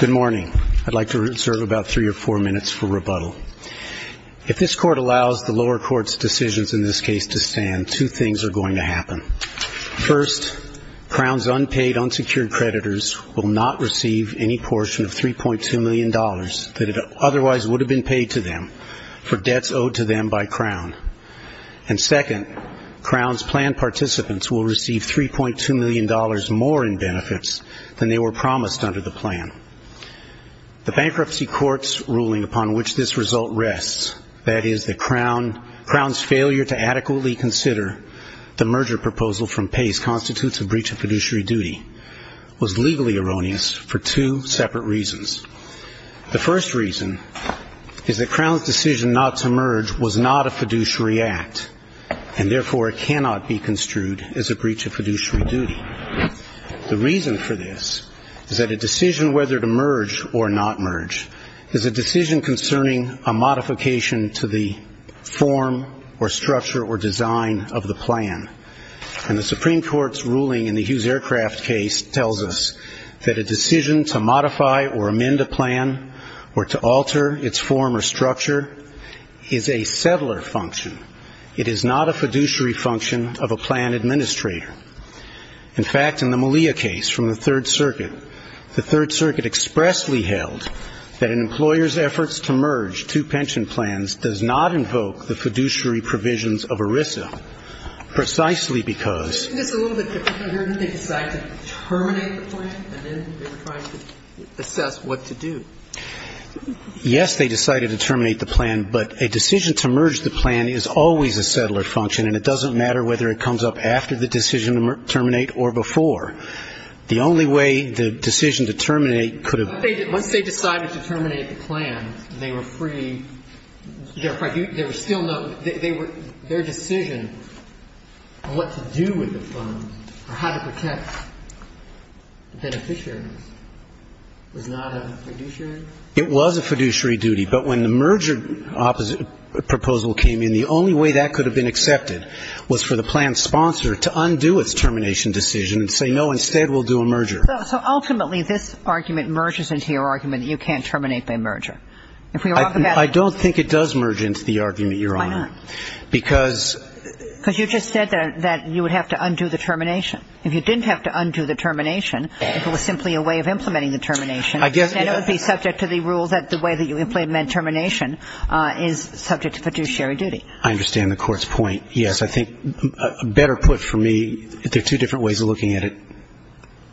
Good morning. I'd like to reserve about three or four minutes for rebuttal. If this court allows the lower court's decisions in this case to stand, two things are going to happen. First, Crown's unpaid, unsecured creditors will not receive any portion of $3.2 million that otherwise would have been paid to them for debts owed to them by Crown. And second, Crown's plan participants will receive $3.2 million more in benefits than they were promised under the plan. And third, Crown's decision, the Bankruptcy Court's ruling upon which this result rests, that is, that Crown's failure to adequately consider the merger proposal from Pace constitutes a breach of fiduciary duty, was legally erroneous for two separate reasons. The first reason is that Crown's decision not to merge was not a fiduciary act and, therefore, cannot be construed as a breach of fiduciary duty. The reason for this is that a decision whether to merge Pace's merger or not merge is a decision concerning a modification to the form or structure or design of the plan. And the Supreme Court's ruling in the Hughes Aircraft case tells us that a decision to modify or amend a plan or to alter its form or structure is a settler function. It is not a fiduciary function of a plan administrator. In fact, in the Malia case from the Third Circuit, the Third Circuit expressed and expressly held that an employer's efforts to merge two pension plans does not invoke the fiduciary provisions of ERISA, precisely because they decided to terminate the plan, and then they were trying to assess what to do. Yes, they decided to terminate the plan, but a decision to merge the plan is always a settler function, and it doesn't matter whether it comes up after the decision to terminate or before. The only way the decision to terminate could have been to terminate the plan, Once they decided to terminate the plan, they were free, their decision on what to do with the funds or how to protect beneficiaries was not a fiduciary? It was a fiduciary duty, but when the merger proposal came in, the only way that could have been accepted was for the plan's sponsor to undo its termination decision and say, no, instead we'll do a merger. So ultimately, this argument merges into your argument that you can't terminate by merger. I don't think it does merge into the argument, Your Honor. Why not? Because you just said that you would have to undo the termination. If you didn't have to undo the termination, if it was simply a way of implementing the termination, then it would be subject to the rule that the way that you implement termination is subject to fiduciary duty. I understand the Court's point, yes. I think, better put for me, there are two different ways of looking at it,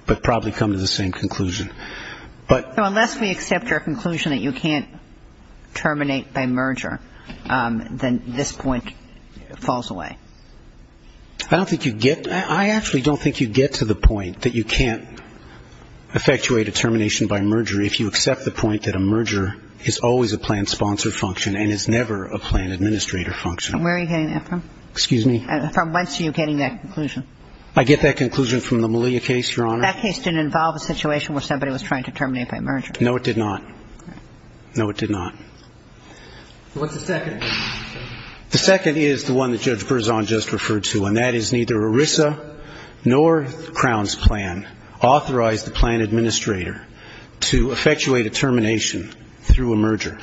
but probably come to the same conclusion. Unless we accept your conclusion that you can't terminate by merger, then this point falls away. I actually don't think you get to the point that you can't effectuate a termination by merger if you accept the point that a merger is always a plan sponsor function and is never a plan administrator function. Where are you getting that from? Excuse me? From whence are you getting that conclusion? I get that conclusion from the Malia case, Your Honor. That case didn't involve a situation where somebody was trying to terminate by merger. No, it did not. No, it did not. What's the second? The second is the one that Judge Berzon just referred to, and that is neither ERISA nor Crown's plan authorized the plan administrator to effectuate a termination through a merger.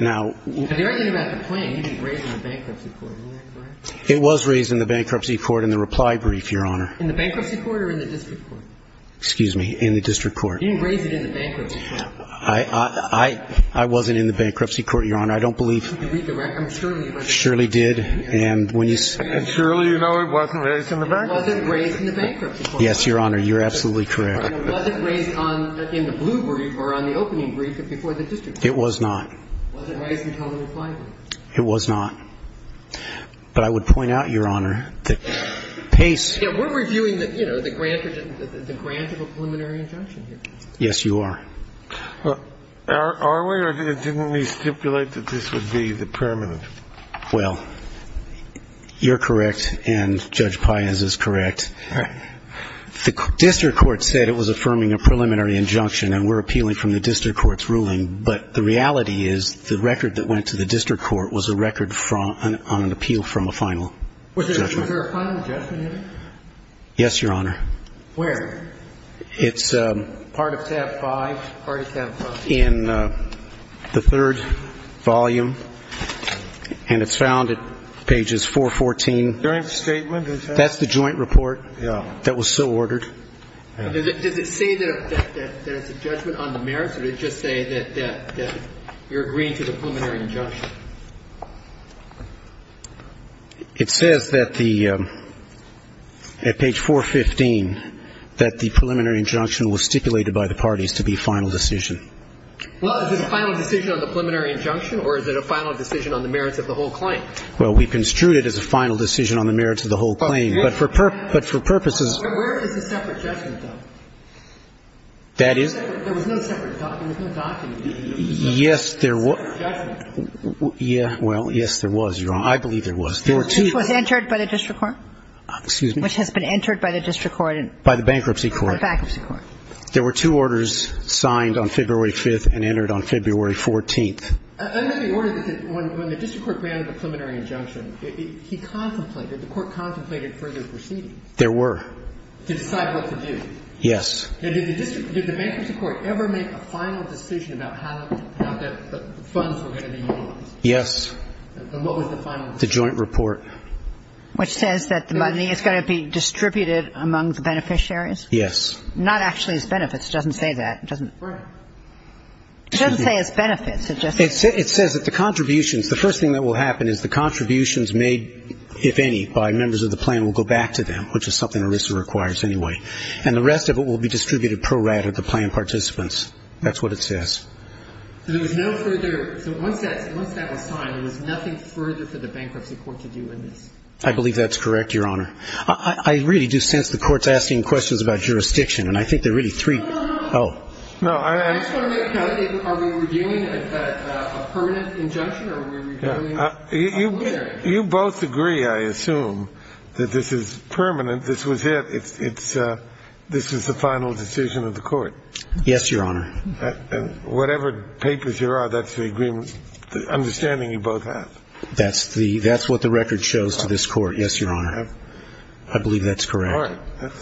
Now, the argument about the plan, you didn't raise it in the bankruptcy court. Isn't that correct? It was raised in the bankruptcy court in the reply brief, Your Honor. In the bankruptcy court or in the district court? Excuse me? In the district court. You didn't raise it in the bankruptcy court. I wasn't in the bankruptcy court, Your Honor. I don't believe. I'm sure you were. Surely did. And surely you know it wasn't raised in the bankruptcy court. It wasn't raised in the bankruptcy court. Yes, Your Honor, you're absolutely correct. Was it raised in the blue brief or on the opening brief or before the district court? It was not. Was it raised in the reply brief? It was not. But I would point out, Your Honor, that Pace. We're reviewing the grant of a preliminary injunction here. Yes, you are. Are we or didn't we stipulate that this would be the permanent? Well, you're correct, and Judge Paez is correct. All right. The district court said it was affirming a preliminary injunction, and we're appealing from the district court's ruling. But the reality is the record that went to the district court was a record on an appeal from a final judgment. Was there a final judgment in it? Yes, Your Honor. Where? It's part of tab 5. Part of tab 5. In the third volume, and it's found at pages 414. Joint statement. That's the joint report. That was so ordered. Does it say that it's a judgment on the merits, or did it just say that you're agreeing to the preliminary injunction? It says that the at page 415 that the preliminary injunction was stipulated by the parties to be final decision. Well, is it a final decision on the preliminary injunction, or is it a final decision on the merits of the whole claim? Well, we construed it as a final decision on the merits of the whole claim. But for purposes. Where is the separate judgment, though? That is. There was no separate. There was no document. Yes, there was. Well, yes, there was, Your Honor. I believe there was. Which was entered by the district court? Excuse me? Which has been entered by the district court. By the bankruptcy court. Bankruptcy court. There were two orders signed on February 5th and entered on February 14th. Under the order that when the district court granted a preliminary injunction, he contemplated, the court contemplated further proceedings. There were. To decide what to do. Yes. Did the bankruptcy court ever make a final decision about how the funds were going to be utilized? Yes. And what was the final decision? The joint report. Which says that the money is going to be distributed among the beneficiaries? Yes. Not actually as benefits. It doesn't say that. Right. It doesn't say as benefits. It says that the contributions, the first thing that will happen is the contributions made, if any, by members of the plan will go back to them, which is something ERISA requires anyway. And the rest of it will be distributed pro rata to plan participants. That's what it says. So there was no further, so once that was signed, there was nothing further for the bankruptcy court to do in this? I believe that's correct, Your Honor. I really do sense the court's asking questions about jurisdiction, and I think there are really three. No, no, no. Oh. Is that a permanent injunction or are we reviewing? You both agree, I assume, that this is permanent. This was it. This is the final decision of the court. Yes, Your Honor. Whatever papers there are, that's the agreement, the understanding you both have. That's what the record shows to this court. Yes, Your Honor. I believe that's correct. All right.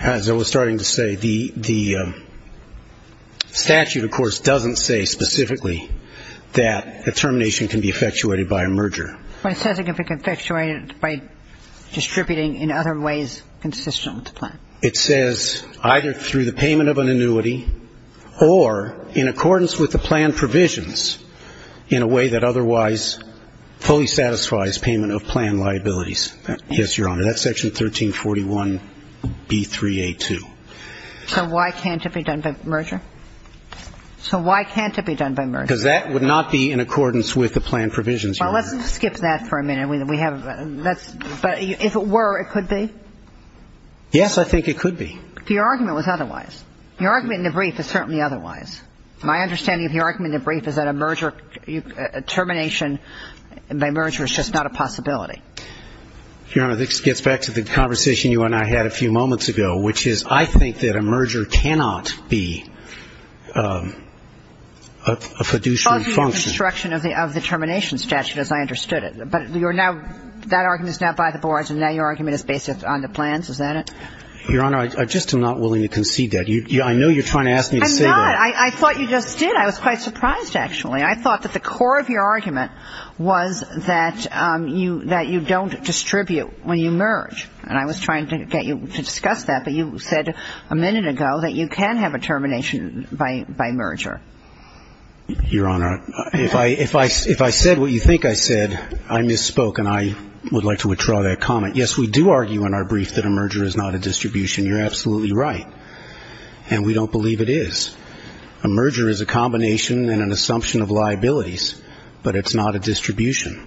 As I was starting to say, the statute, of course, doesn't say specifically that a termination can be effectuated by a merger. But it says it can be effectuated by distributing in other ways consistent with the plan. It says either through the payment of an annuity or in accordance with the plan provisions in a way that otherwise fully satisfies payment of plan liabilities. Yes, Your Honor. That's Section 1341B3A2. So why can't it be done by merger? So why can't it be done by merger? Because that would not be in accordance with the plan provisions, Your Honor. Well, let's skip that for a minute. We have a ñ that's ñ but if it were, it could be? Yes, I think it could be. Your argument was otherwise. Your argument in the brief is certainly otherwise. My understanding of your argument in the brief is that a merger, a termination by merger is just not a possibility. Your Honor, this gets back to the conversation you and I had a few moments ago, which is I think that a merger cannot be a fiduciary function. Partly a construction of the termination statute, as I understood it. But you're now ñ that argument is now by the boards, and now your argument is based on the plans, is that it? Your Honor, I just am not willing to concede that. I know you're trying to ask me to say that. I'm not. I thought you just did. I was quite surprised, actually. I thought that the core of your argument was that you don't distribute when you merge. And I was trying to get you to discuss that, but you said a minute ago that you can have a termination by merger. Your Honor, if I said what you think I said, I misspoke, and I would like to withdraw that comment. Yes, we do argue in our brief that a merger is not a distribution. You're absolutely right. And we don't believe it is. A merger is a combination and an assumption of liabilities, but it's not a distribution.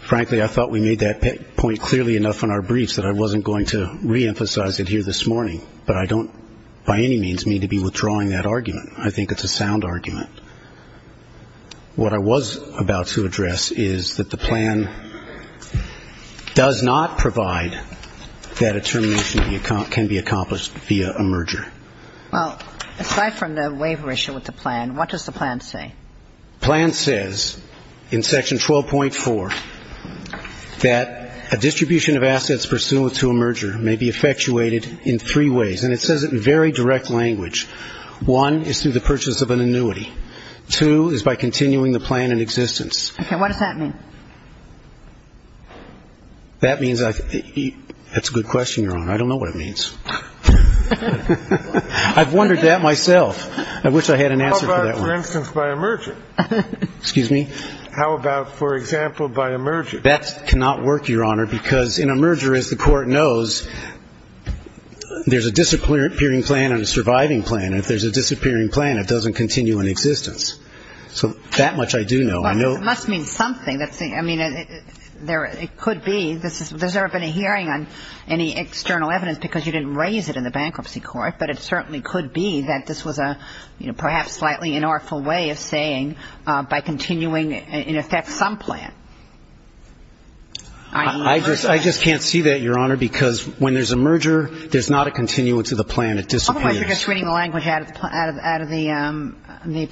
Frankly, I thought we made that point clearly enough in our briefs that I wasn't going to reemphasize it here this morning, but I don't by any means mean to be withdrawing that argument. I think it's a sound argument. What I was about to address is that the plan does not provide that a termination can be accomplished via a merger. Well, aside from the waiver issue with the plan, what does the plan say? The plan says in Section 12.4 that a distribution of assets pursuant to a merger may be effectuated in three ways, and it says it in very direct language. One is through the purchase of an annuity. Two is by continuing the plan in existence. Okay. What does that mean? That means that's a good question, Your Honor. I don't know what it means. I've wondered that myself. I wish I had an answer for that one. How about, for instance, by a merger? Excuse me? How about, for example, by a merger? That cannot work, Your Honor, because in a merger, as the Court knows, there's a disappearing plan and a surviving plan. If there's a disappearing plan, it doesn't continue in existence. So that much I do know. It must mean something. I mean, it could be. I don't think there's ever been a hearing on any external evidence because you didn't raise it in the bankruptcy court, but it certainly could be that this was a, you know, perhaps slightly inartful way of saying by continuing, in effect, some plan. I just can't see that, Your Honor, because when there's a merger, there's not a continuance of the plan. It disappears. Otherwise, you're just reading the language out of the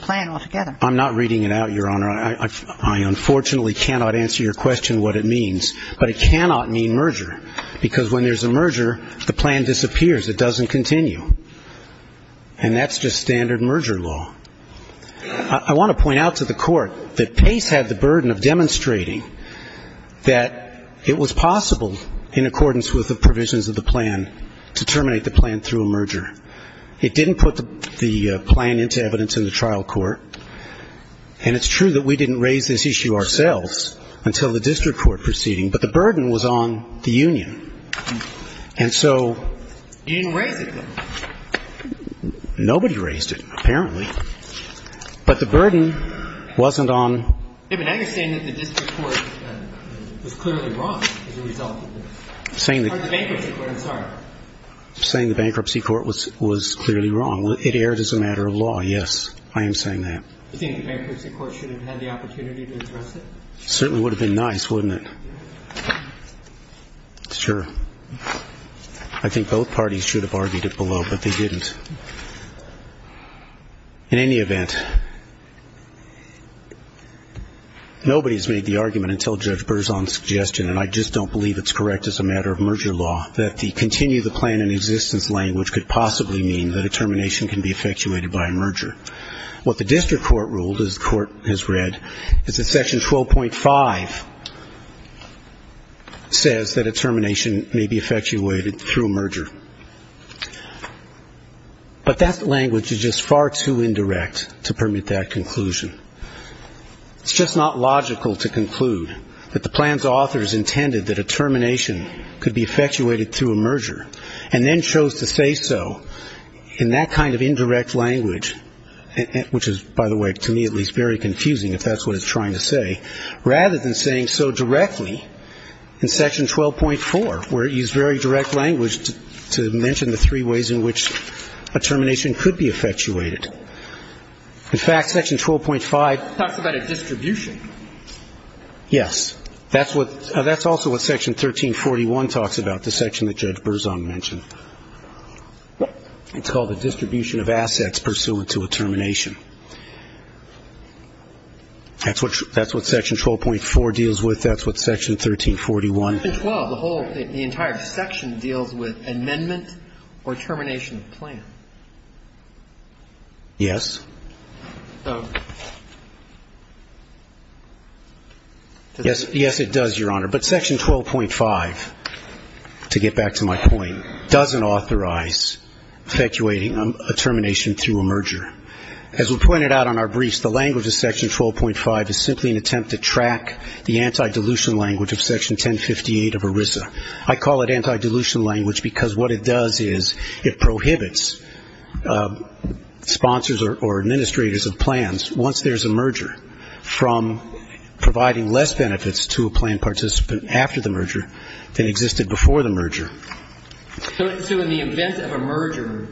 plan altogether. I'm not reading it out, Your Honor. I unfortunately cannot answer your question what it means, but it cannot mean merger, because when there's a merger, the plan disappears. It doesn't continue. And that's just standard merger law. I want to point out to the Court that Pace had the burden of demonstrating that it was possible, in accordance with the provisions of the plan, to terminate the plan through a merger. It didn't put the plan into evidence in the trial court. And it's true that we didn't raise this issue ourselves until the district court proceeding, but the burden was on the union. And so you didn't raise it, then. Nobody raised it, apparently. But the burden wasn't on the union. But now you're saying that the district court was clearly wrong as a result of this. Or the bankruptcy court. I'm sorry. I'm saying the bankruptcy court was clearly wrong. It erred as a matter of law, yes. I am saying that. Do you think the bankruptcy court should have had the opportunity to address it? It certainly would have been nice, wouldn't it? Sure. I think both parties should have argued it below, but they didn't. In any event, nobody's made the argument until Judge Berzon's suggestion, and I just don't believe it's correct as a matter of merger law, that the continue of the plan in existence language could possibly mean that a termination can be effectuated by a merger. What the district court ruled, as the court has read, is that Section 12.5 says that a termination may be effectuated through a merger. But that language is just far too indirect to permit that conclusion. It's just not logical to conclude that the plan's authors intended that a termination could be effectuated through a merger and then chose to say so in that kind of indirect language, which is, by the way, to me at least, very confusing, if that's what it's trying to say, rather than saying so directly in Section 12.4, where it used very direct language to mention the three ways in which a termination could be effectuated. In fact, Section 12.5 talks about a distribution. Yes. That's also what Section 1341 talks about, the section that Judge Berzon mentioned. It's called a distribution of assets pursuant to a termination. That's what Section 12.4 deals with. That's what Section 1341. Section 12, the entire section deals with amendment or termination of plan. Yes. Yes, it does, Your Honor. But Section 12.5, to get back to my point, doesn't authorize effectuating a termination through a merger. As we pointed out on our briefs, the language of Section 12.5 is simply an attempt to track the anti-dilution language of Section 1058 of ERISA. I call it anti-dilution language because what it does is it prohibits sponsors or administrators of plans, once there's a merger, from providing less benefits to a plan participant after the merger than existed before the merger. So in the event of a merger,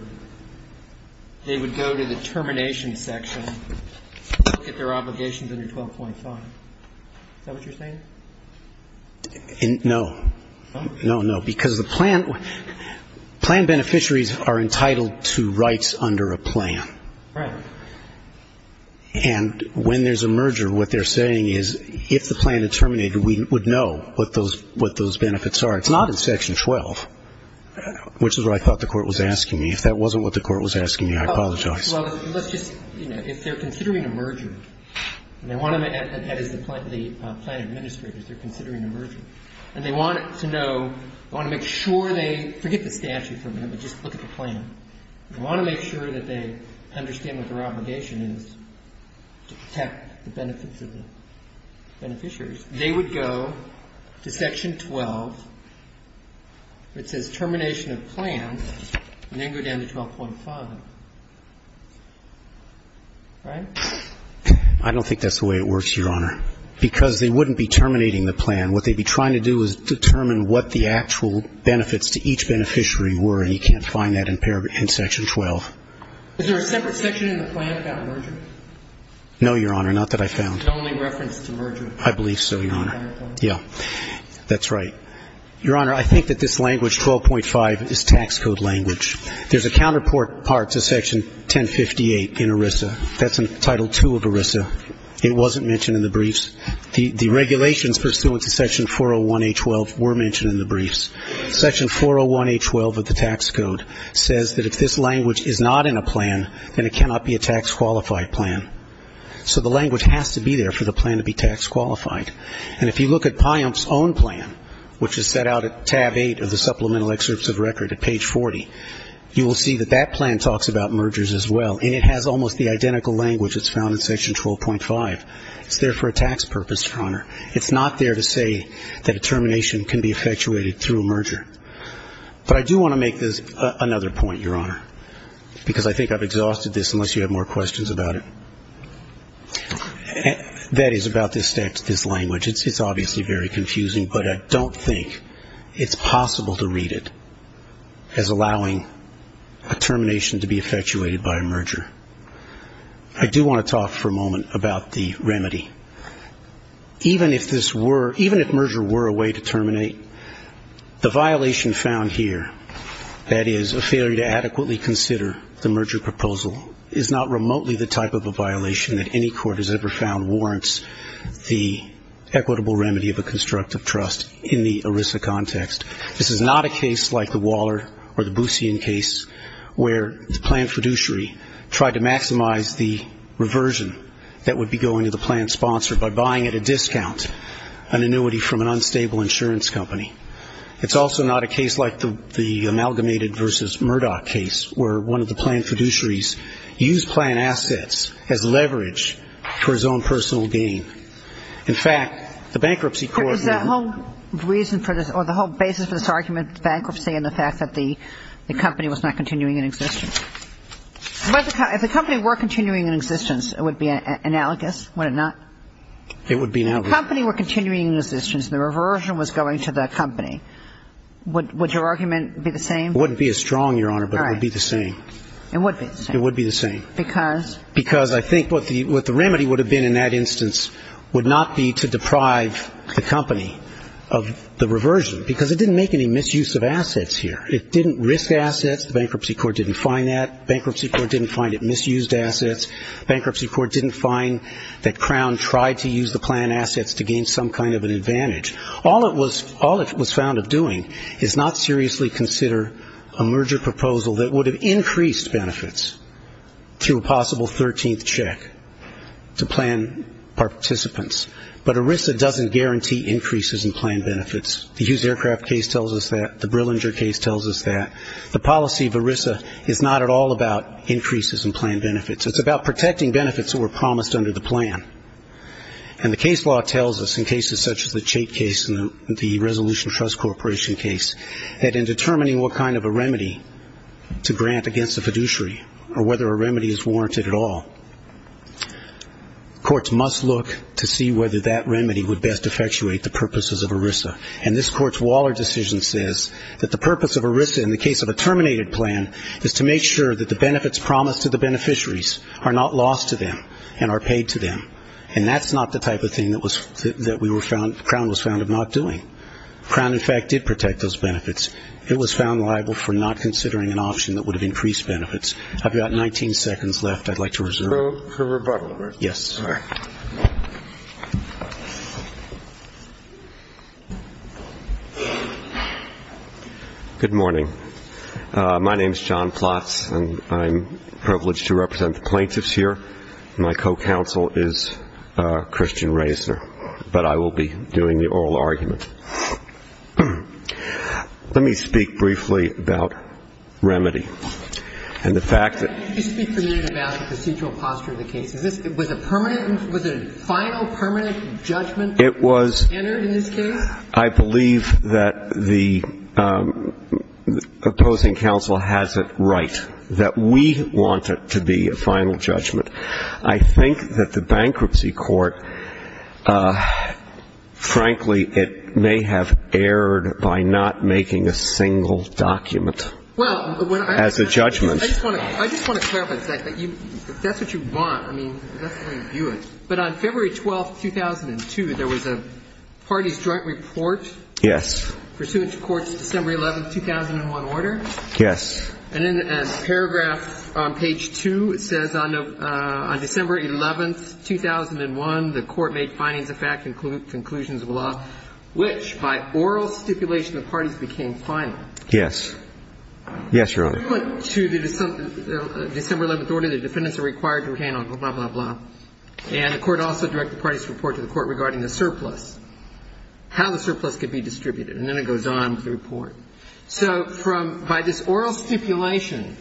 they would go to the termination section, get their obligations under 12.5. Is that what you're saying? No. No, no. Because the plan beneficiaries are entitled to rights under a plan. Right. And when there's a merger, what they're saying is if the plan had terminated, we would know what those benefits are. It's not in Section 12, which is what I thought the Court was asking me. If that wasn't what the Court was asking me, I apologize. Well, let's just, you know, if they're considering a merger, and they want to, that is, the plan administrators, they're considering a merger, and they want to know, they want to make sure they forget the statute for a minute, but just look at the plan. They want to make sure that they understand what their obligation is to protect the benefits of the beneficiaries. They would go to Section 12. It says termination of plan, and then go down to 12.5. Right? I don't think that's the way it works, Your Honor. Because they wouldn't be terminating the plan. What they'd be trying to do is determine what the actual benefits to each beneficiary were, and you can't find that in Section 12. Is there a separate section in the plan about merger? No, Your Honor. Not that I found. It's only referenced to merger. I believe so, Your Honor. Yeah. That's right. Your Honor, I think that this language, 12.5, is tax code language. There's a counterpart to Section 1058 in ERISA. That's in Title II of ERISA. It wasn't mentioned in the briefs. The regulations pursuant to Section 401A12 were mentioned in the briefs. Section 401A12 of the tax code says that if this language is not in a plan, then it cannot be a tax qualified plan. So the language has to be there for the plan to be tax qualified. And if you look at PYUM's own plan, which is set out at Tab 8 of the Supplemental Excerpts of Record at page 40, you will see that that plan talks about mergers as well, and it has almost the identical language that's found in Section 12.5. It's there for a tax purpose, Your Honor. It's not there to say that a termination can be effectuated through a merger. But I do want to make another point, Your Honor, because I think I've exhausted this unless you have more questions about it. That is about this language. It's obviously very confusing, but I don't think it's possible to read it as allowing a termination to be effectuated by a merger. I do want to talk for a moment about the remedy. Even if merger were a way to terminate, the violation found here, that is a failure to adequately consider the merger proposal, is not remotely the type of a violation that any court has ever found warrants the equitable remedy of a constructive trust in the ERISA context. This is not a case like the Waller or the Boussian case, where the planned fiduciary tried to maximize the reversion that would be going to the planned sponsor by buying at a discount an annuity from an unstable insurance company. It's also not a case like the Amalgamated v. Murdoch case, where one of the planned fiduciaries used planned assets as leverage for his own personal gain. In fact, the bankruptcy court now ---- There is a whole reason for this, or the whole basis for this argument, bankruptcy and the fact that the company was not continuing in existence. If the company were continuing in existence, it would be analogous, would it not? It would be analogous. If the company were continuing in existence and the reversion was going to that company, would your argument be the same? It wouldn't be as strong, Your Honor, but it would be the same. It would be the same. It would be the same. Because? Because I think what the remedy would have been in that instance would not be to deprive the company of the reversion because it didn't make any misuse of assets here. It didn't risk assets. The bankruptcy court didn't find that. Bankruptcy court didn't find it misused assets. Bankruptcy court didn't find that Crown tried to use the planned assets to gain some kind of an advantage. All it was found of doing is not seriously consider a merger proposal that would have increased benefits through a possible 13th check to plan participants. But ERISA doesn't guarantee increases in planned benefits. The Hughes Aircraft case tells us that. The Brillinger case tells us that. The policy of ERISA is not at all about increases in planned benefits. It's about protecting benefits that were promised under the plan. And the case law tells us, in cases such as the Chait case and the Resolution Trust Corporation case, that in determining what kind of a remedy to grant against a fiduciary or whether a remedy is warranted at all, courts must look to see whether that remedy would best effectuate the purposes of ERISA. And this Court's Waller decision says that the purpose of ERISA, in the case of a terminated plan, is to make sure that the benefits promised to the beneficiaries are not lost to them and are paid to them. And that's not the type of thing that Crown was found of not doing. Crown, in fact, did protect those benefits. It was found liable for not considering an option that would have increased benefits. I've got 19 seconds left I'd like to reserve. For rebuttal. Yes. All right. Good morning. My name is John Plotz, and I'm privileged to represent the plaintiffs here. My co-counsel is Christian Reisner. But I will be doing the oral argument. Let me speak briefly about remedy. And the fact that you speak to me about the procedural posture of the case. Was it a permanent, was it a final, permanent judgment that was entered in this case? I believe that the opposing counsel has it right, that we want it to be a final judgment. I think that the bankruptcy court, frankly, it may have erred by not making a single document. As a judgment. I just want to clarify, that's what you want. I mean, that's the way you view it. But on February 12, 2002, there was a parties joint report. Yes. Pursuant to court's December 11, 2001 order. Yes. And in paragraph on page 2, it says on December 11, 2001, the court made findings of fact and conclusions of law, which by oral stipulation of parties became final. Yes. Yes, Your Honor. Pursuant to the December 11 order, the defendants are required to retain on blah, blah, blah. And the court also directed parties to report to the court regarding the surplus. How the surplus could be distributed. And then it goes on to the report. So from, by this oral stipulation,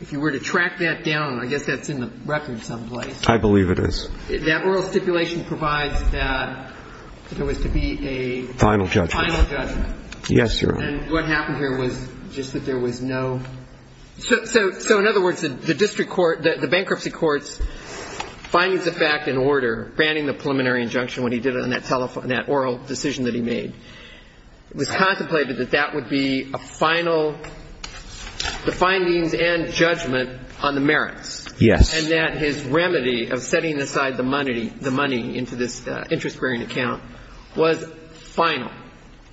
if you were to track that down, I guess that's in the record someplace. I believe it is. That oral stipulation provides that there was to be a final judgment. Final judgment. Yes, Your Honor. And what happened here was just that there was no. So in other words, the district court, the bankruptcy court's findings of fact and order, banning the preliminary injunction when he did it on that oral decision that he made, it was contemplated that that would be a final, the findings and judgment on the merits. Yes. And that his remedy of setting aside the money into this interest bearing account was final.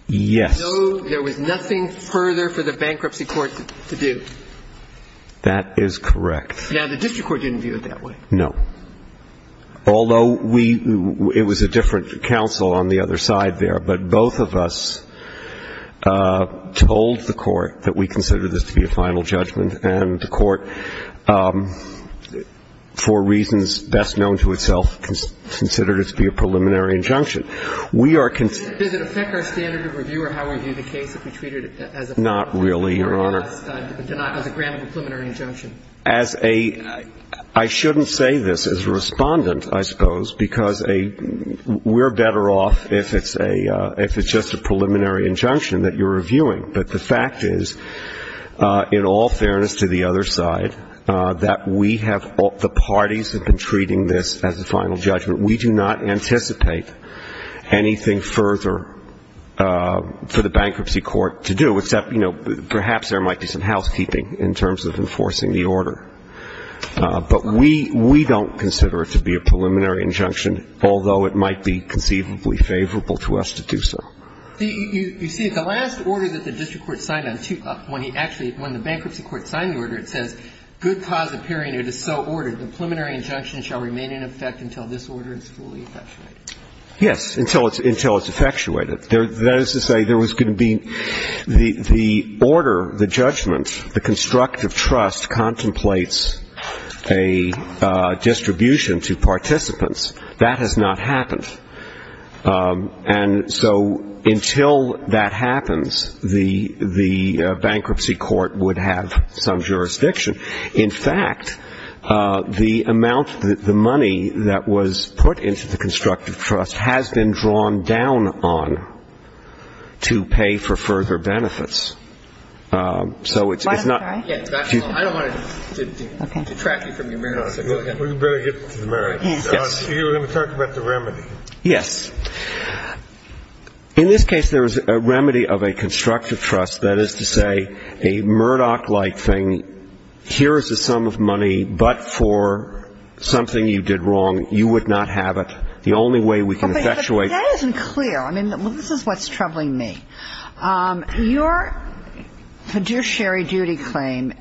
Yes. So there was nothing further for the bankruptcy court to do. That is correct. Now, the district court didn't view it that way. No. Although we, it was a different counsel on the other side there. But both of us told the court that we considered this to be a final judgment. And the court, for reasons best known to itself, considered it to be a preliminary injunction. We are. Does it affect our standard of review or how we view the case if we treat it as a. Not really, Your Honor. As a grand preliminary injunction. As a. And I. I shouldn't say this as a respondent, I suppose, because we're better off if it's a, if it's just a preliminary injunction that you're reviewing. But the fact is, in all fairness to the other side, that we have, the parties have been treating this as a final judgment. We do not anticipate anything further for the bankruptcy court to do, except, you know, perhaps there might be some housekeeping in terms of enforcing the order. But we, we don't consider it to be a preliminary injunction, although it might be conceivably favorable to us to do so. You see, the last order that the district court signed on, when he actually, when the bankruptcy court signed the order, it says, good cause appearing, it is so ordered. The preliminary injunction shall remain in effect until this order is fully effectuated. Yes, until it's, until it's effectuated. That is to say, there was going to be, the, the order, the judgment, the constructive trust contemplates a distribution to participants. That has not happened. And so until that happens, the, the bankruptcy court would have some jurisdiction. In fact, the amount, the money that was put into the constructive trust has been drawn down on to pay for further benefits. So it's not. I don't want to detract you from your merits. We better get to the merits. You were going to talk about the remedy. Yes. In this case, there is a remedy of a constructive trust. That is to say, a Murdoch-like thing. Here is the sum of money, but for something you did wrong. You would not have it. The only way we can effectuate. But that isn't clear. I mean, this is what's troubling me. Your fiduciary duty claim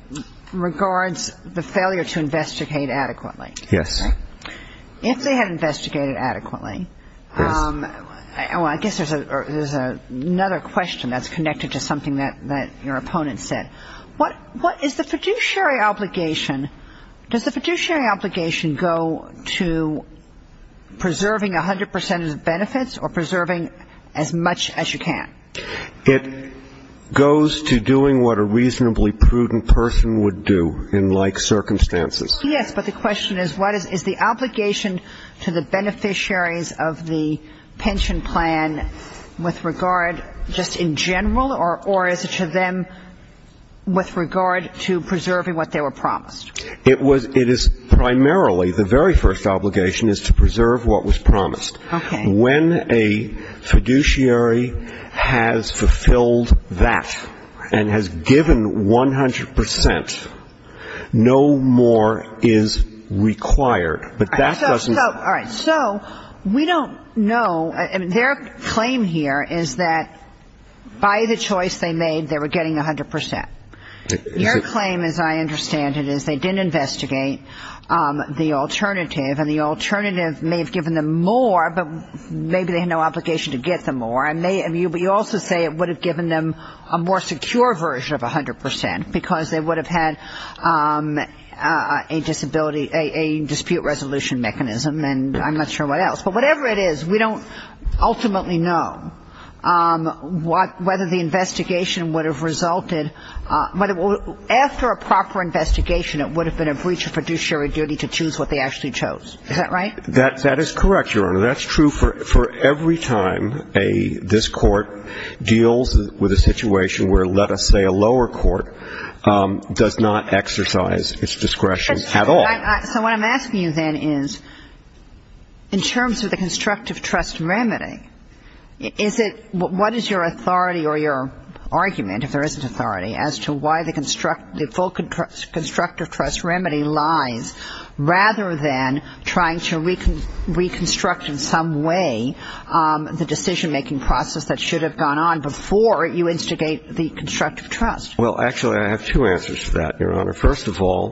regards the failure to investigate adequately. Yes. If they had investigated adequately, I guess there's another question that's connected to something that your opponent said. What is the fiduciary obligation? Does the fiduciary obligation go to preserving 100 percent of the benefits or preserving as much as you can? It goes to doing what a reasonably prudent person would do in like circumstances. Yes, but the question is, what is the obligation to the beneficiaries of the pension plan with regard just in general, or is it to them with regard to preserving what they were promised? It is primarily, the very first obligation is to preserve what was promised. Okay. When a fiduciary has fulfilled that and has given 100 percent, no more is required. But that doesn't. All right. So we don't know. Their claim here is that by the choice they made, they were getting 100 percent. Your claim, as I understand it, is they didn't investigate the alternative, and the alternative may have given them more, but maybe they had no obligation to get them more. And you also say it would have given them a more secure version of 100 percent, because they would have had a dispute resolution mechanism, and I'm not sure what else. But whatever it is, we don't ultimately know whether the investigation would have resulted. After a proper investigation, it would have been a breach of fiduciary duty to choose what they actually chose. Is that right? That is correct, Your Honor. That's true for every time this Court deals with a situation where, let us say, a lower court does not exercise its discretion at all. So what I'm asking you then is, in terms of the constructive trust remedy, what is your authority or your argument, if there is an authority, as to why the full constructive trust remedy lies, rather than trying to reconstruct in some way the decision-making process that should have gone on before you instigate the constructive trust? Well, actually, I have two answers to that, Your Honor. First of all,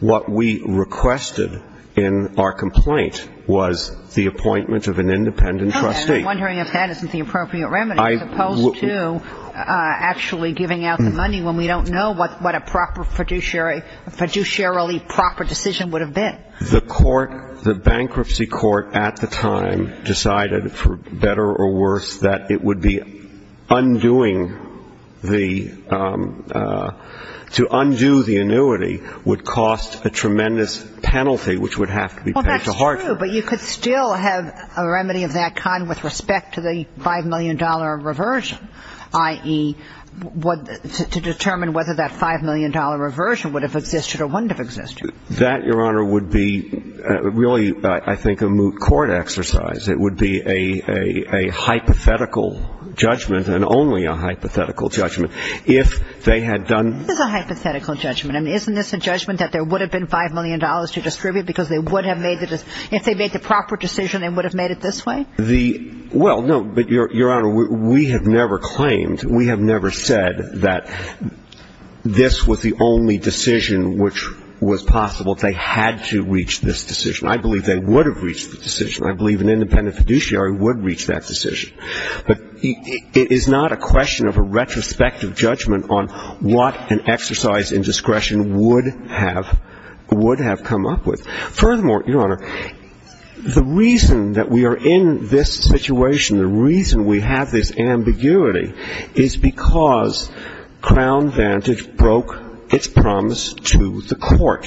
what we requested in our complaint was the appointment of an independent trustee. I'm wondering if that isn't the appropriate remedy, as opposed to actually giving out the money when we don't know what a proper fiduciary, fiduciarily proper decision would have been. The court, the bankruptcy court at the time, decided, for better or worse, that it would be undoing the – to undo the annuity would cost a tremendous penalty, which would have to be paid to Hartford. Well, that's true, but you could still have a remedy of that kind with respect to the $5 million reversion, i.e., to determine whether that $5 million reversion would have existed or wouldn't have existed. That, Your Honor, would be really, I think, a moot court exercise. It would be a hypothetical judgment, and only a hypothetical judgment, if they had done – This is a hypothetical judgment. I mean, isn't this a judgment that there would have been $5 million to distribute because they would have made the – if they made the proper decision, they would have made it this way? The – well, no, but, Your Honor, we have never claimed, we have never said that this was the only decision which was possible. They had to reach this decision. I believe they would have reached the decision. I believe an independent fiduciary would reach that decision. But it is not a question of a retrospective judgment on what an exercise in discretion would have come up with. Furthermore, Your Honor, the reason that we are in this situation, the reason we have this ambiguity, is because Crown Vantage broke its promise to the court.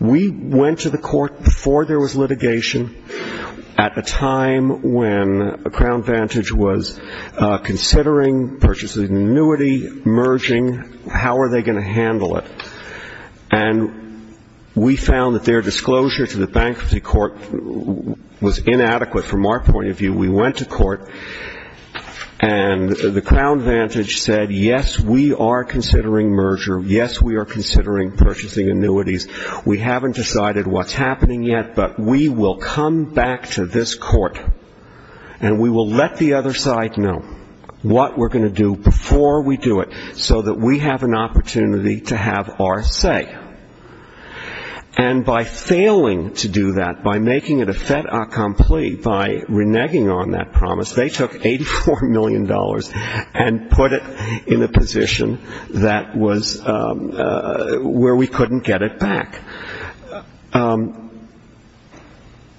We went to the court before there was litigation at a time when Crown Vantage was considering purchasing an annuity, merging. How are they going to handle it? And we found that their disclosure to the bankruptcy court was inadequate from our point of view. We went to court, and the Crown Vantage said, yes, we are considering merger. Yes, we are considering purchasing annuities. We haven't decided what's happening yet, but we will come back to this court, and we will let the other side know what we're going to do before we do it, so that we have an opportunity to have our say. And by failing to do that, by making it a fait accompli, by reneging on that promise, they took $84 million and put it in a position that was where we couldn't get it back.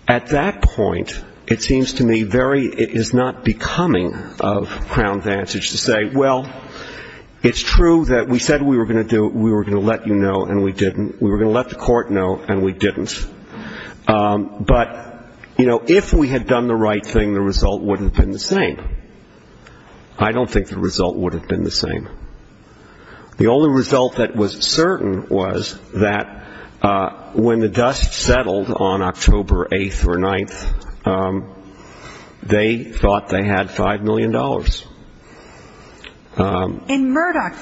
At that point, it seems to me very ‑‑ it is not becoming of Crown Vantage to say, well, it's true that we said we were going to let you know, and we didn't. We were going to let the court know, and we didn't. But, you know, if we had done the right thing, the result wouldn't have been the same. I don't think the result would have been the same. The only result that was certain was that when the dust settled on October 8th or 9th, they thought they had $5 million. In Murdoch,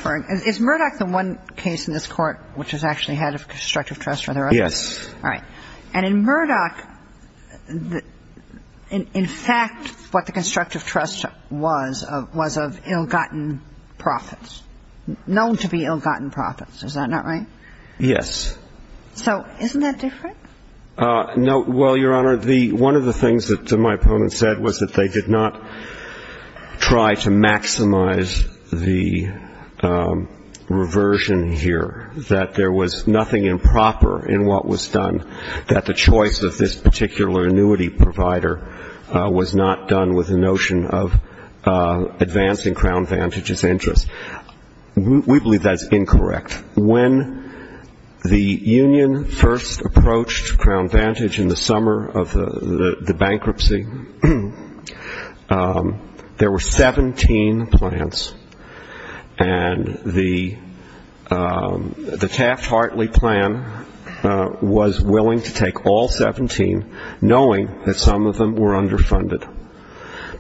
is Murdoch the one case in this court which has actually had a constructive trust? Yes. All right. And in Murdoch, in fact, what the constructive trust was was of ill‑gotten profits, known to be ill‑gotten profits. Is that not right? Yes. So isn't that different? No. Well, Your Honor, one of the things that my opponent said was that they did not try to maximize the reversion here, that there was nothing improper in what was done, that the choice of this particular annuity provider was not done with the notion of advancing Crown Vantage's interest. We believe that's incorrect. When the union first approached Crown Vantage in the summer of the bankruptcy, there were 17 plans, and the Taft‑Hartley plan was willing to take all 17, knowing that some of them were underfunded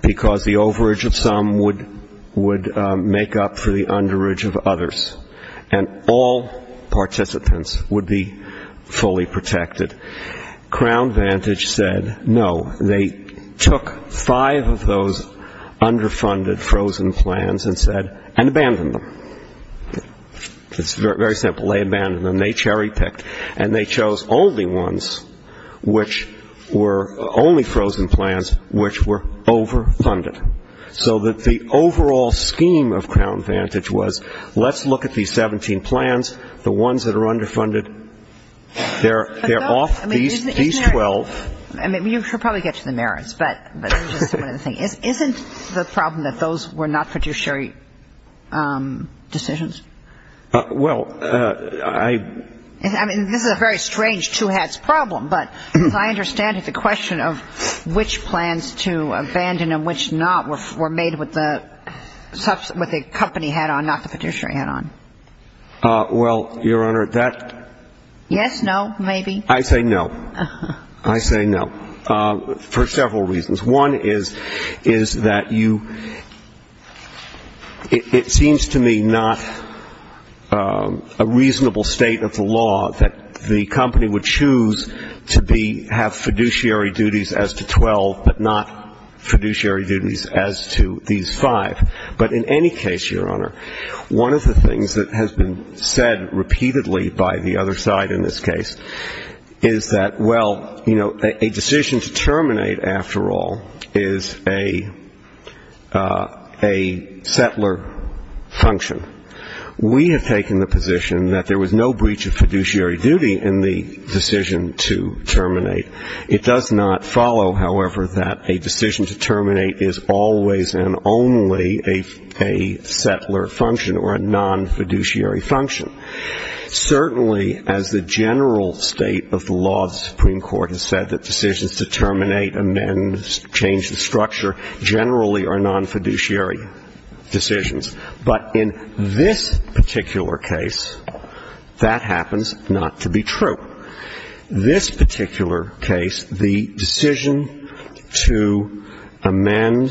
because the overage of some would make up for the underage of others, and all participants would be fully protected. Crown Vantage said no. They took five of those underfunded frozen plans and said, and abandoned them. It's very simple. They abandoned them. They cherry‑picked. And they chose only ones which were ‑‑ only frozen plans which were overfunded. So that the overall scheme of Crown Vantage was let's look at these 17 plans, the ones that are underfunded, they're off these 12. I mean, you can probably get to the merits, but isn't the problem that those were not fiduciary decisions? Well, I ‑‑ I mean, this is a very strange two‑hats problem, but I understand the question of which plans to abandon and which not were made with the company hat on, not the fiduciary hat on. Well, Your Honor, that ‑‑ Yes, no, maybe. I say no. I say no. For several reasons. One is that you ‑‑ it seems to me not a reasonable state of the law that the company would choose to be, have fiduciary duties as to 12, but not fiduciary duties as to these five. But in any case, Your Honor, one of the things that has been said repeatedly by the other side in this case is that, well, you know, a decision to terminate, after all, is a settler function. We have taken the position that there was no breach of fiduciary duty in the decision to terminate. It does not follow, however, that a decision to terminate is always and only a settler function or a non‑fiduciary function. Certainly, as the general state of the law of the Supreme Court has said, that decisions to terminate, amend, change the structure, generally are non‑fiduciary decisions. But in this particular case, that happens not to be true. This particular case, the decision to amend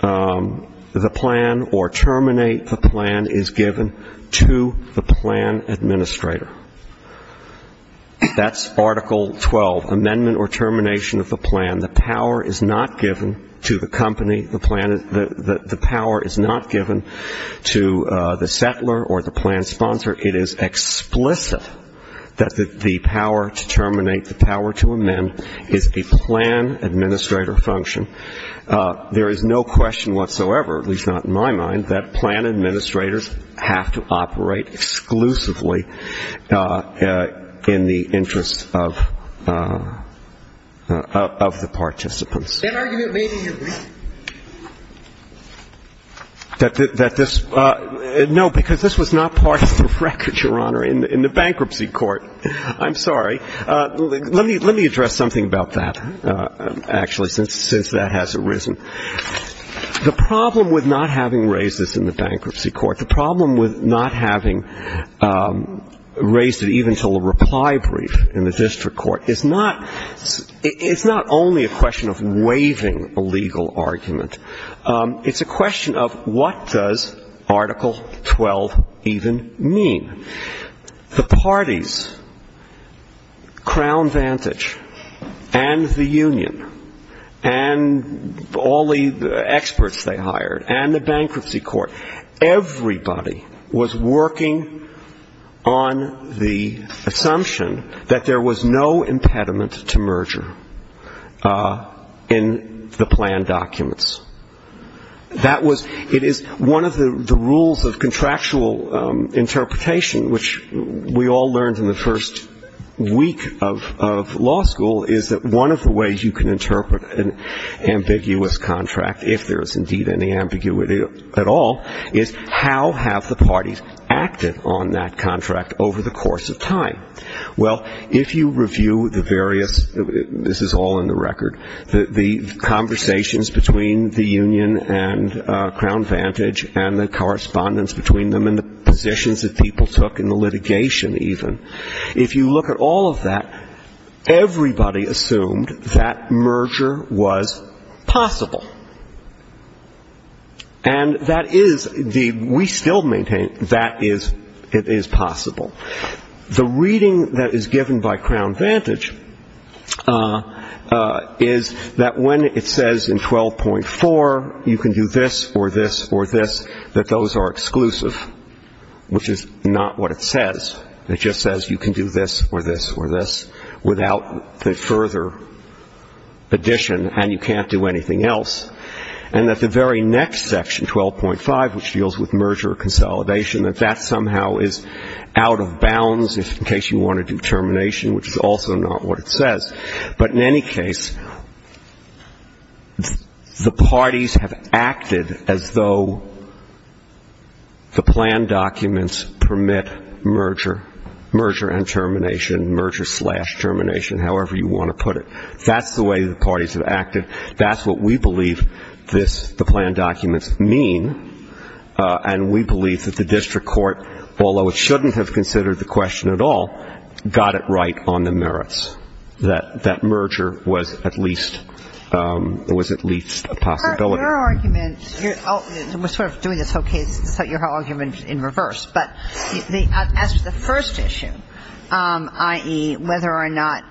the plan or terminate the plan is given to the plan administrator. That's Article 12, amendment or termination of the plan. The power is not given to the company. The power is not given to the settler or the plan sponsor. It is explicit that the power to terminate, the power to amend, is a plan administrator function. There is no question whatsoever, at least not in my mind, that plan administrators have to operate exclusively in the interest of the participants. That this ‑‑ no, because this was not part of the record, Your Honor, in the bankruptcy court. I'm sorry. Let me address something about that, actually, since that has arisen. The problem with not having raised this in the bankruptcy court, the problem with not having raised it even until a reply brief in the district court, is not ‑‑ it's not only a question of waiving a legal argument. It's a question of what does Article 12 even mean. The parties, Crown Vantage and the union and all the experts they hired and the bankruptcy court, everybody was working on the assumption that there was no impediment to merger in the plan documents. That was ‑‑ it is one of the rules of contractual interpretation, which we all learned in the first week of law school, is that one of the ways you can interpret an ambiguous contract, if there is indeed any ambiguity at all, is how have the parties acted on that contract over the course of time. Well, if you review the various ‑‑ this is all in the record, the conversations between the union and Crown Vantage and the correspondence between them and the positions that people took in the litigation even, if you look at all of that, everybody assumed that merger was possible. And that is the ‑‑ we still maintain that it is possible. The reading that is given by Crown Vantage is that when it says in 12.4 you can do this or this or this, that those are exclusive, which is not what it says. It just says you can do this or this or this without the further addition, and you can't do anything else. And that the very next section, 12.5, which deals with merger consolidation, that that somehow is out of bounds in case you want to do termination, which is also not what it says. But in any case, the parties have acted as though the plan documents permit merger, merger and termination, merger slash termination, however you want to put it. That's the way the parties have acted. That's what we believe this, the plan documents, mean. And we believe that the district court, although it shouldn't have considered the question at all, got it right on the merits, that merger was at least a possibility. Your argument ‑‑ we're sort of doing this whole case, so your argument is in reverse. But as to the first issue, i.e., whether or not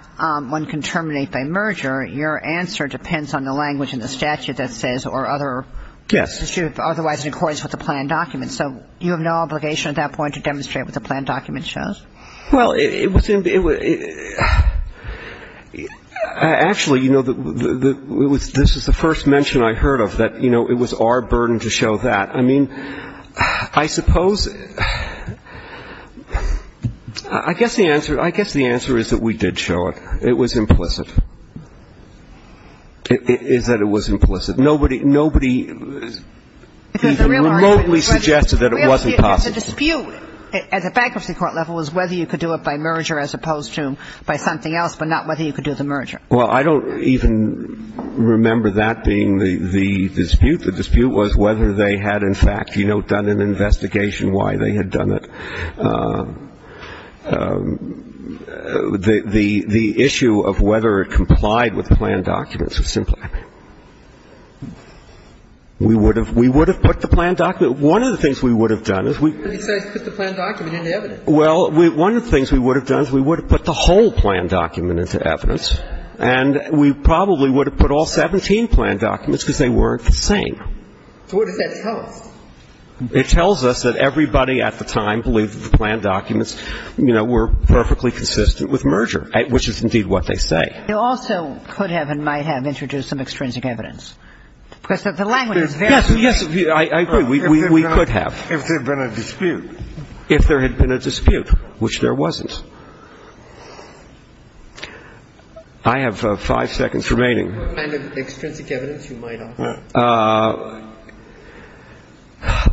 one can terminate by merger, your answer depends on the language in the statute that says or other ‑‑ Yes. Otherwise in accordance with the plan documents. So you have no obligation at that point to demonstrate what the plan document shows? Well, it was ‑‑ actually, you know, this is the first mention I heard of that, you know, it was our burden to show that. I mean, I suppose ‑‑ I guess the answer is that we did show it. It was implicit. It is that it was implicit. Nobody ‑‑ nobody remotely suggested that it wasn't possible. But the dispute at the bankruptcy court level was whether you could do it by merger as opposed to by something else, but not whether you could do the merger. Well, I don't even remember that being the dispute. The dispute was whether they had, in fact, you know, done an investigation why they had done it. The issue of whether it complied with the plan documents was simply ‑‑ we would have put the plan document. One of the things we would have done is we ‑‑ But he says put the plan document into evidence. Well, one of the things we would have done is we would have put the whole plan document into evidence, and we probably would have put all 17 plan documents because they weren't the same. So what does that tell us? It tells us that everybody at the time believed that the plan documents, you know, were perfectly consistent with merger, which is indeed what they say. It also could have and might have introduced some extrinsic evidence. Because the language is very ‑‑ Yes, yes. I agree. We could have. If there had been a dispute. If there had been a dispute, which there wasn't. I have five seconds remaining. What kind of extrinsic evidence you might offer?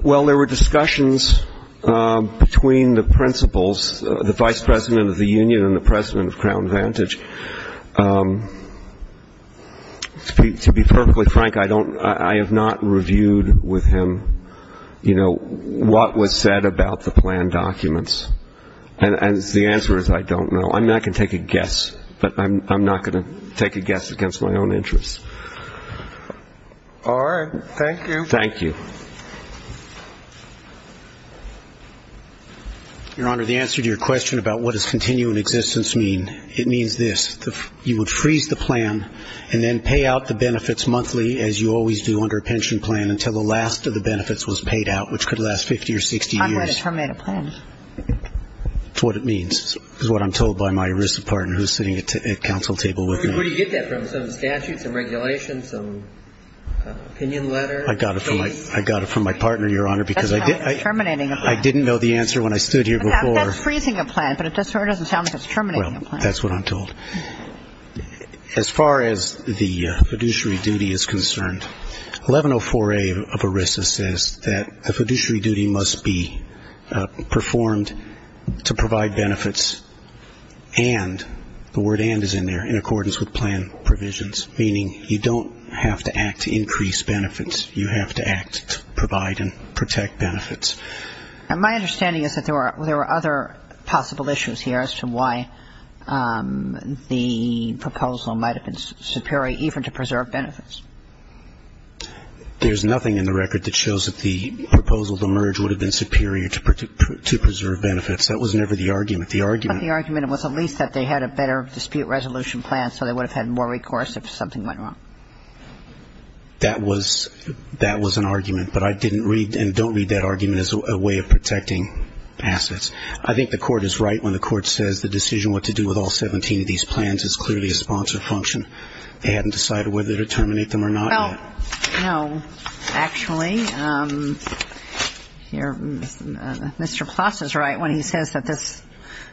Well, there were discussions between the principals, the vice president of the union and the president of Crown Vantage. To be perfectly frank, I have not reviewed with him, you know, what was said about the plan documents. And the answer is I don't know. I mean, I can take a guess, but I'm not going to take a guess against my own interests. All right. Thank you. Thank you. Your Honor, the answer to your question about what does continuing existence mean, it means this. You would freeze the plan and then pay out the benefits monthly, as you always do under a pension plan, until the last of the benefits was paid out, which could last 50 or 60 years. I'm going to terminate a plan. That's what it means is what I'm told by my ARISA partner who's sitting at council table with me. Where do you get that from? Some statutes and regulations, some opinion letter? I got it from my partner, Your Honor, because I didn't know the answer when I stood here before. That's freezing a plan, but it doesn't sound like it's terminating a plan. That's what I'm told. As far as the fiduciary duty is concerned, 1104A of ARISA says that the fiduciary duty must be performed to provide benefits and the word and is in there, in accordance with plan provisions, meaning you don't have to act to increase benefits. You have to act to provide and protect benefits. And my understanding is that there were other possible issues here as to why the proposal might have been superior, even to preserve benefits. There's nothing in the record that shows that the proposal to merge would have been superior to preserve benefits. That was never the argument. The argument was at least that they had a better dispute resolution plan, so they would have had more recourse if something went wrong. That was an argument. But I didn't read and don't read that argument as a way of protecting assets. I think the Court is right when the Court says the decision what to do with all 17 of these plans is clearly a sponsored function. They hadn't decided whether to terminate them or not yet. Well, no. Actually, Mr. Ploss is right when he says that this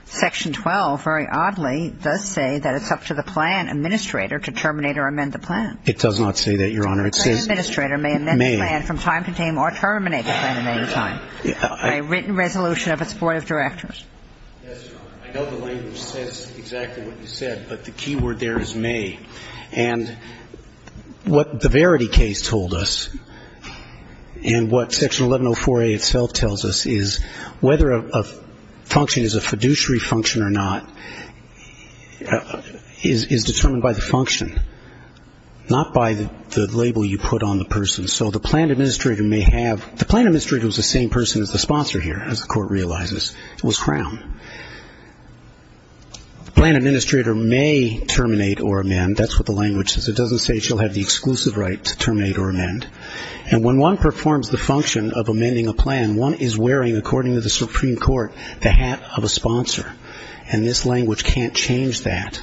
Section 12, very oddly, does say that it's up to the plan administrator to terminate or amend the plan. It does not say that, Your Honor. It says the plan administrator may amend the plan from time to time or terminate the plan at any time. By written resolution of its Board of Directors. Yes, Your Honor. I know the language says exactly what you said, but the key word there is may. And what the Verity case told us and what Section 1104A itself tells us is whether a function is a fiduciary function or not is determined by the function, not by the label you put on the person. So the plan administrator may have the plan administrator was the same person as the sponsor here, as the Court realizes. It was Crown. The plan administrator may terminate or amend. That's what the language says. It doesn't say she'll have the exclusive right to terminate or amend. And when one performs the function of amending a plan, one is wearing, according to the Supreme Court, the hat of a sponsor. And this language can't change that.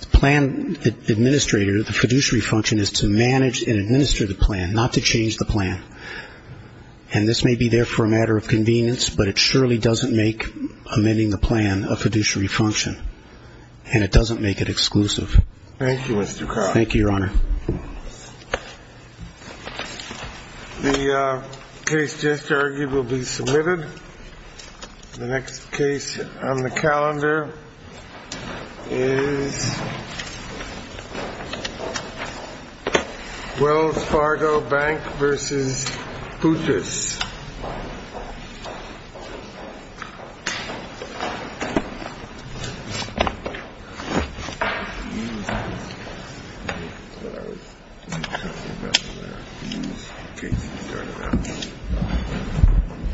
The plan administrator, the fiduciary function, is to manage and administer the plan, not to change the plan. And this may be there for a matter of convenience, but it surely doesn't make amending the plan a fiduciary function. And it doesn't make it exclusive. Thank you, Mr. Crown. Thank you, Your Honor. The case just argued will be submitted. The next case on the calendar is Wells Fargo Bank v. Poutis.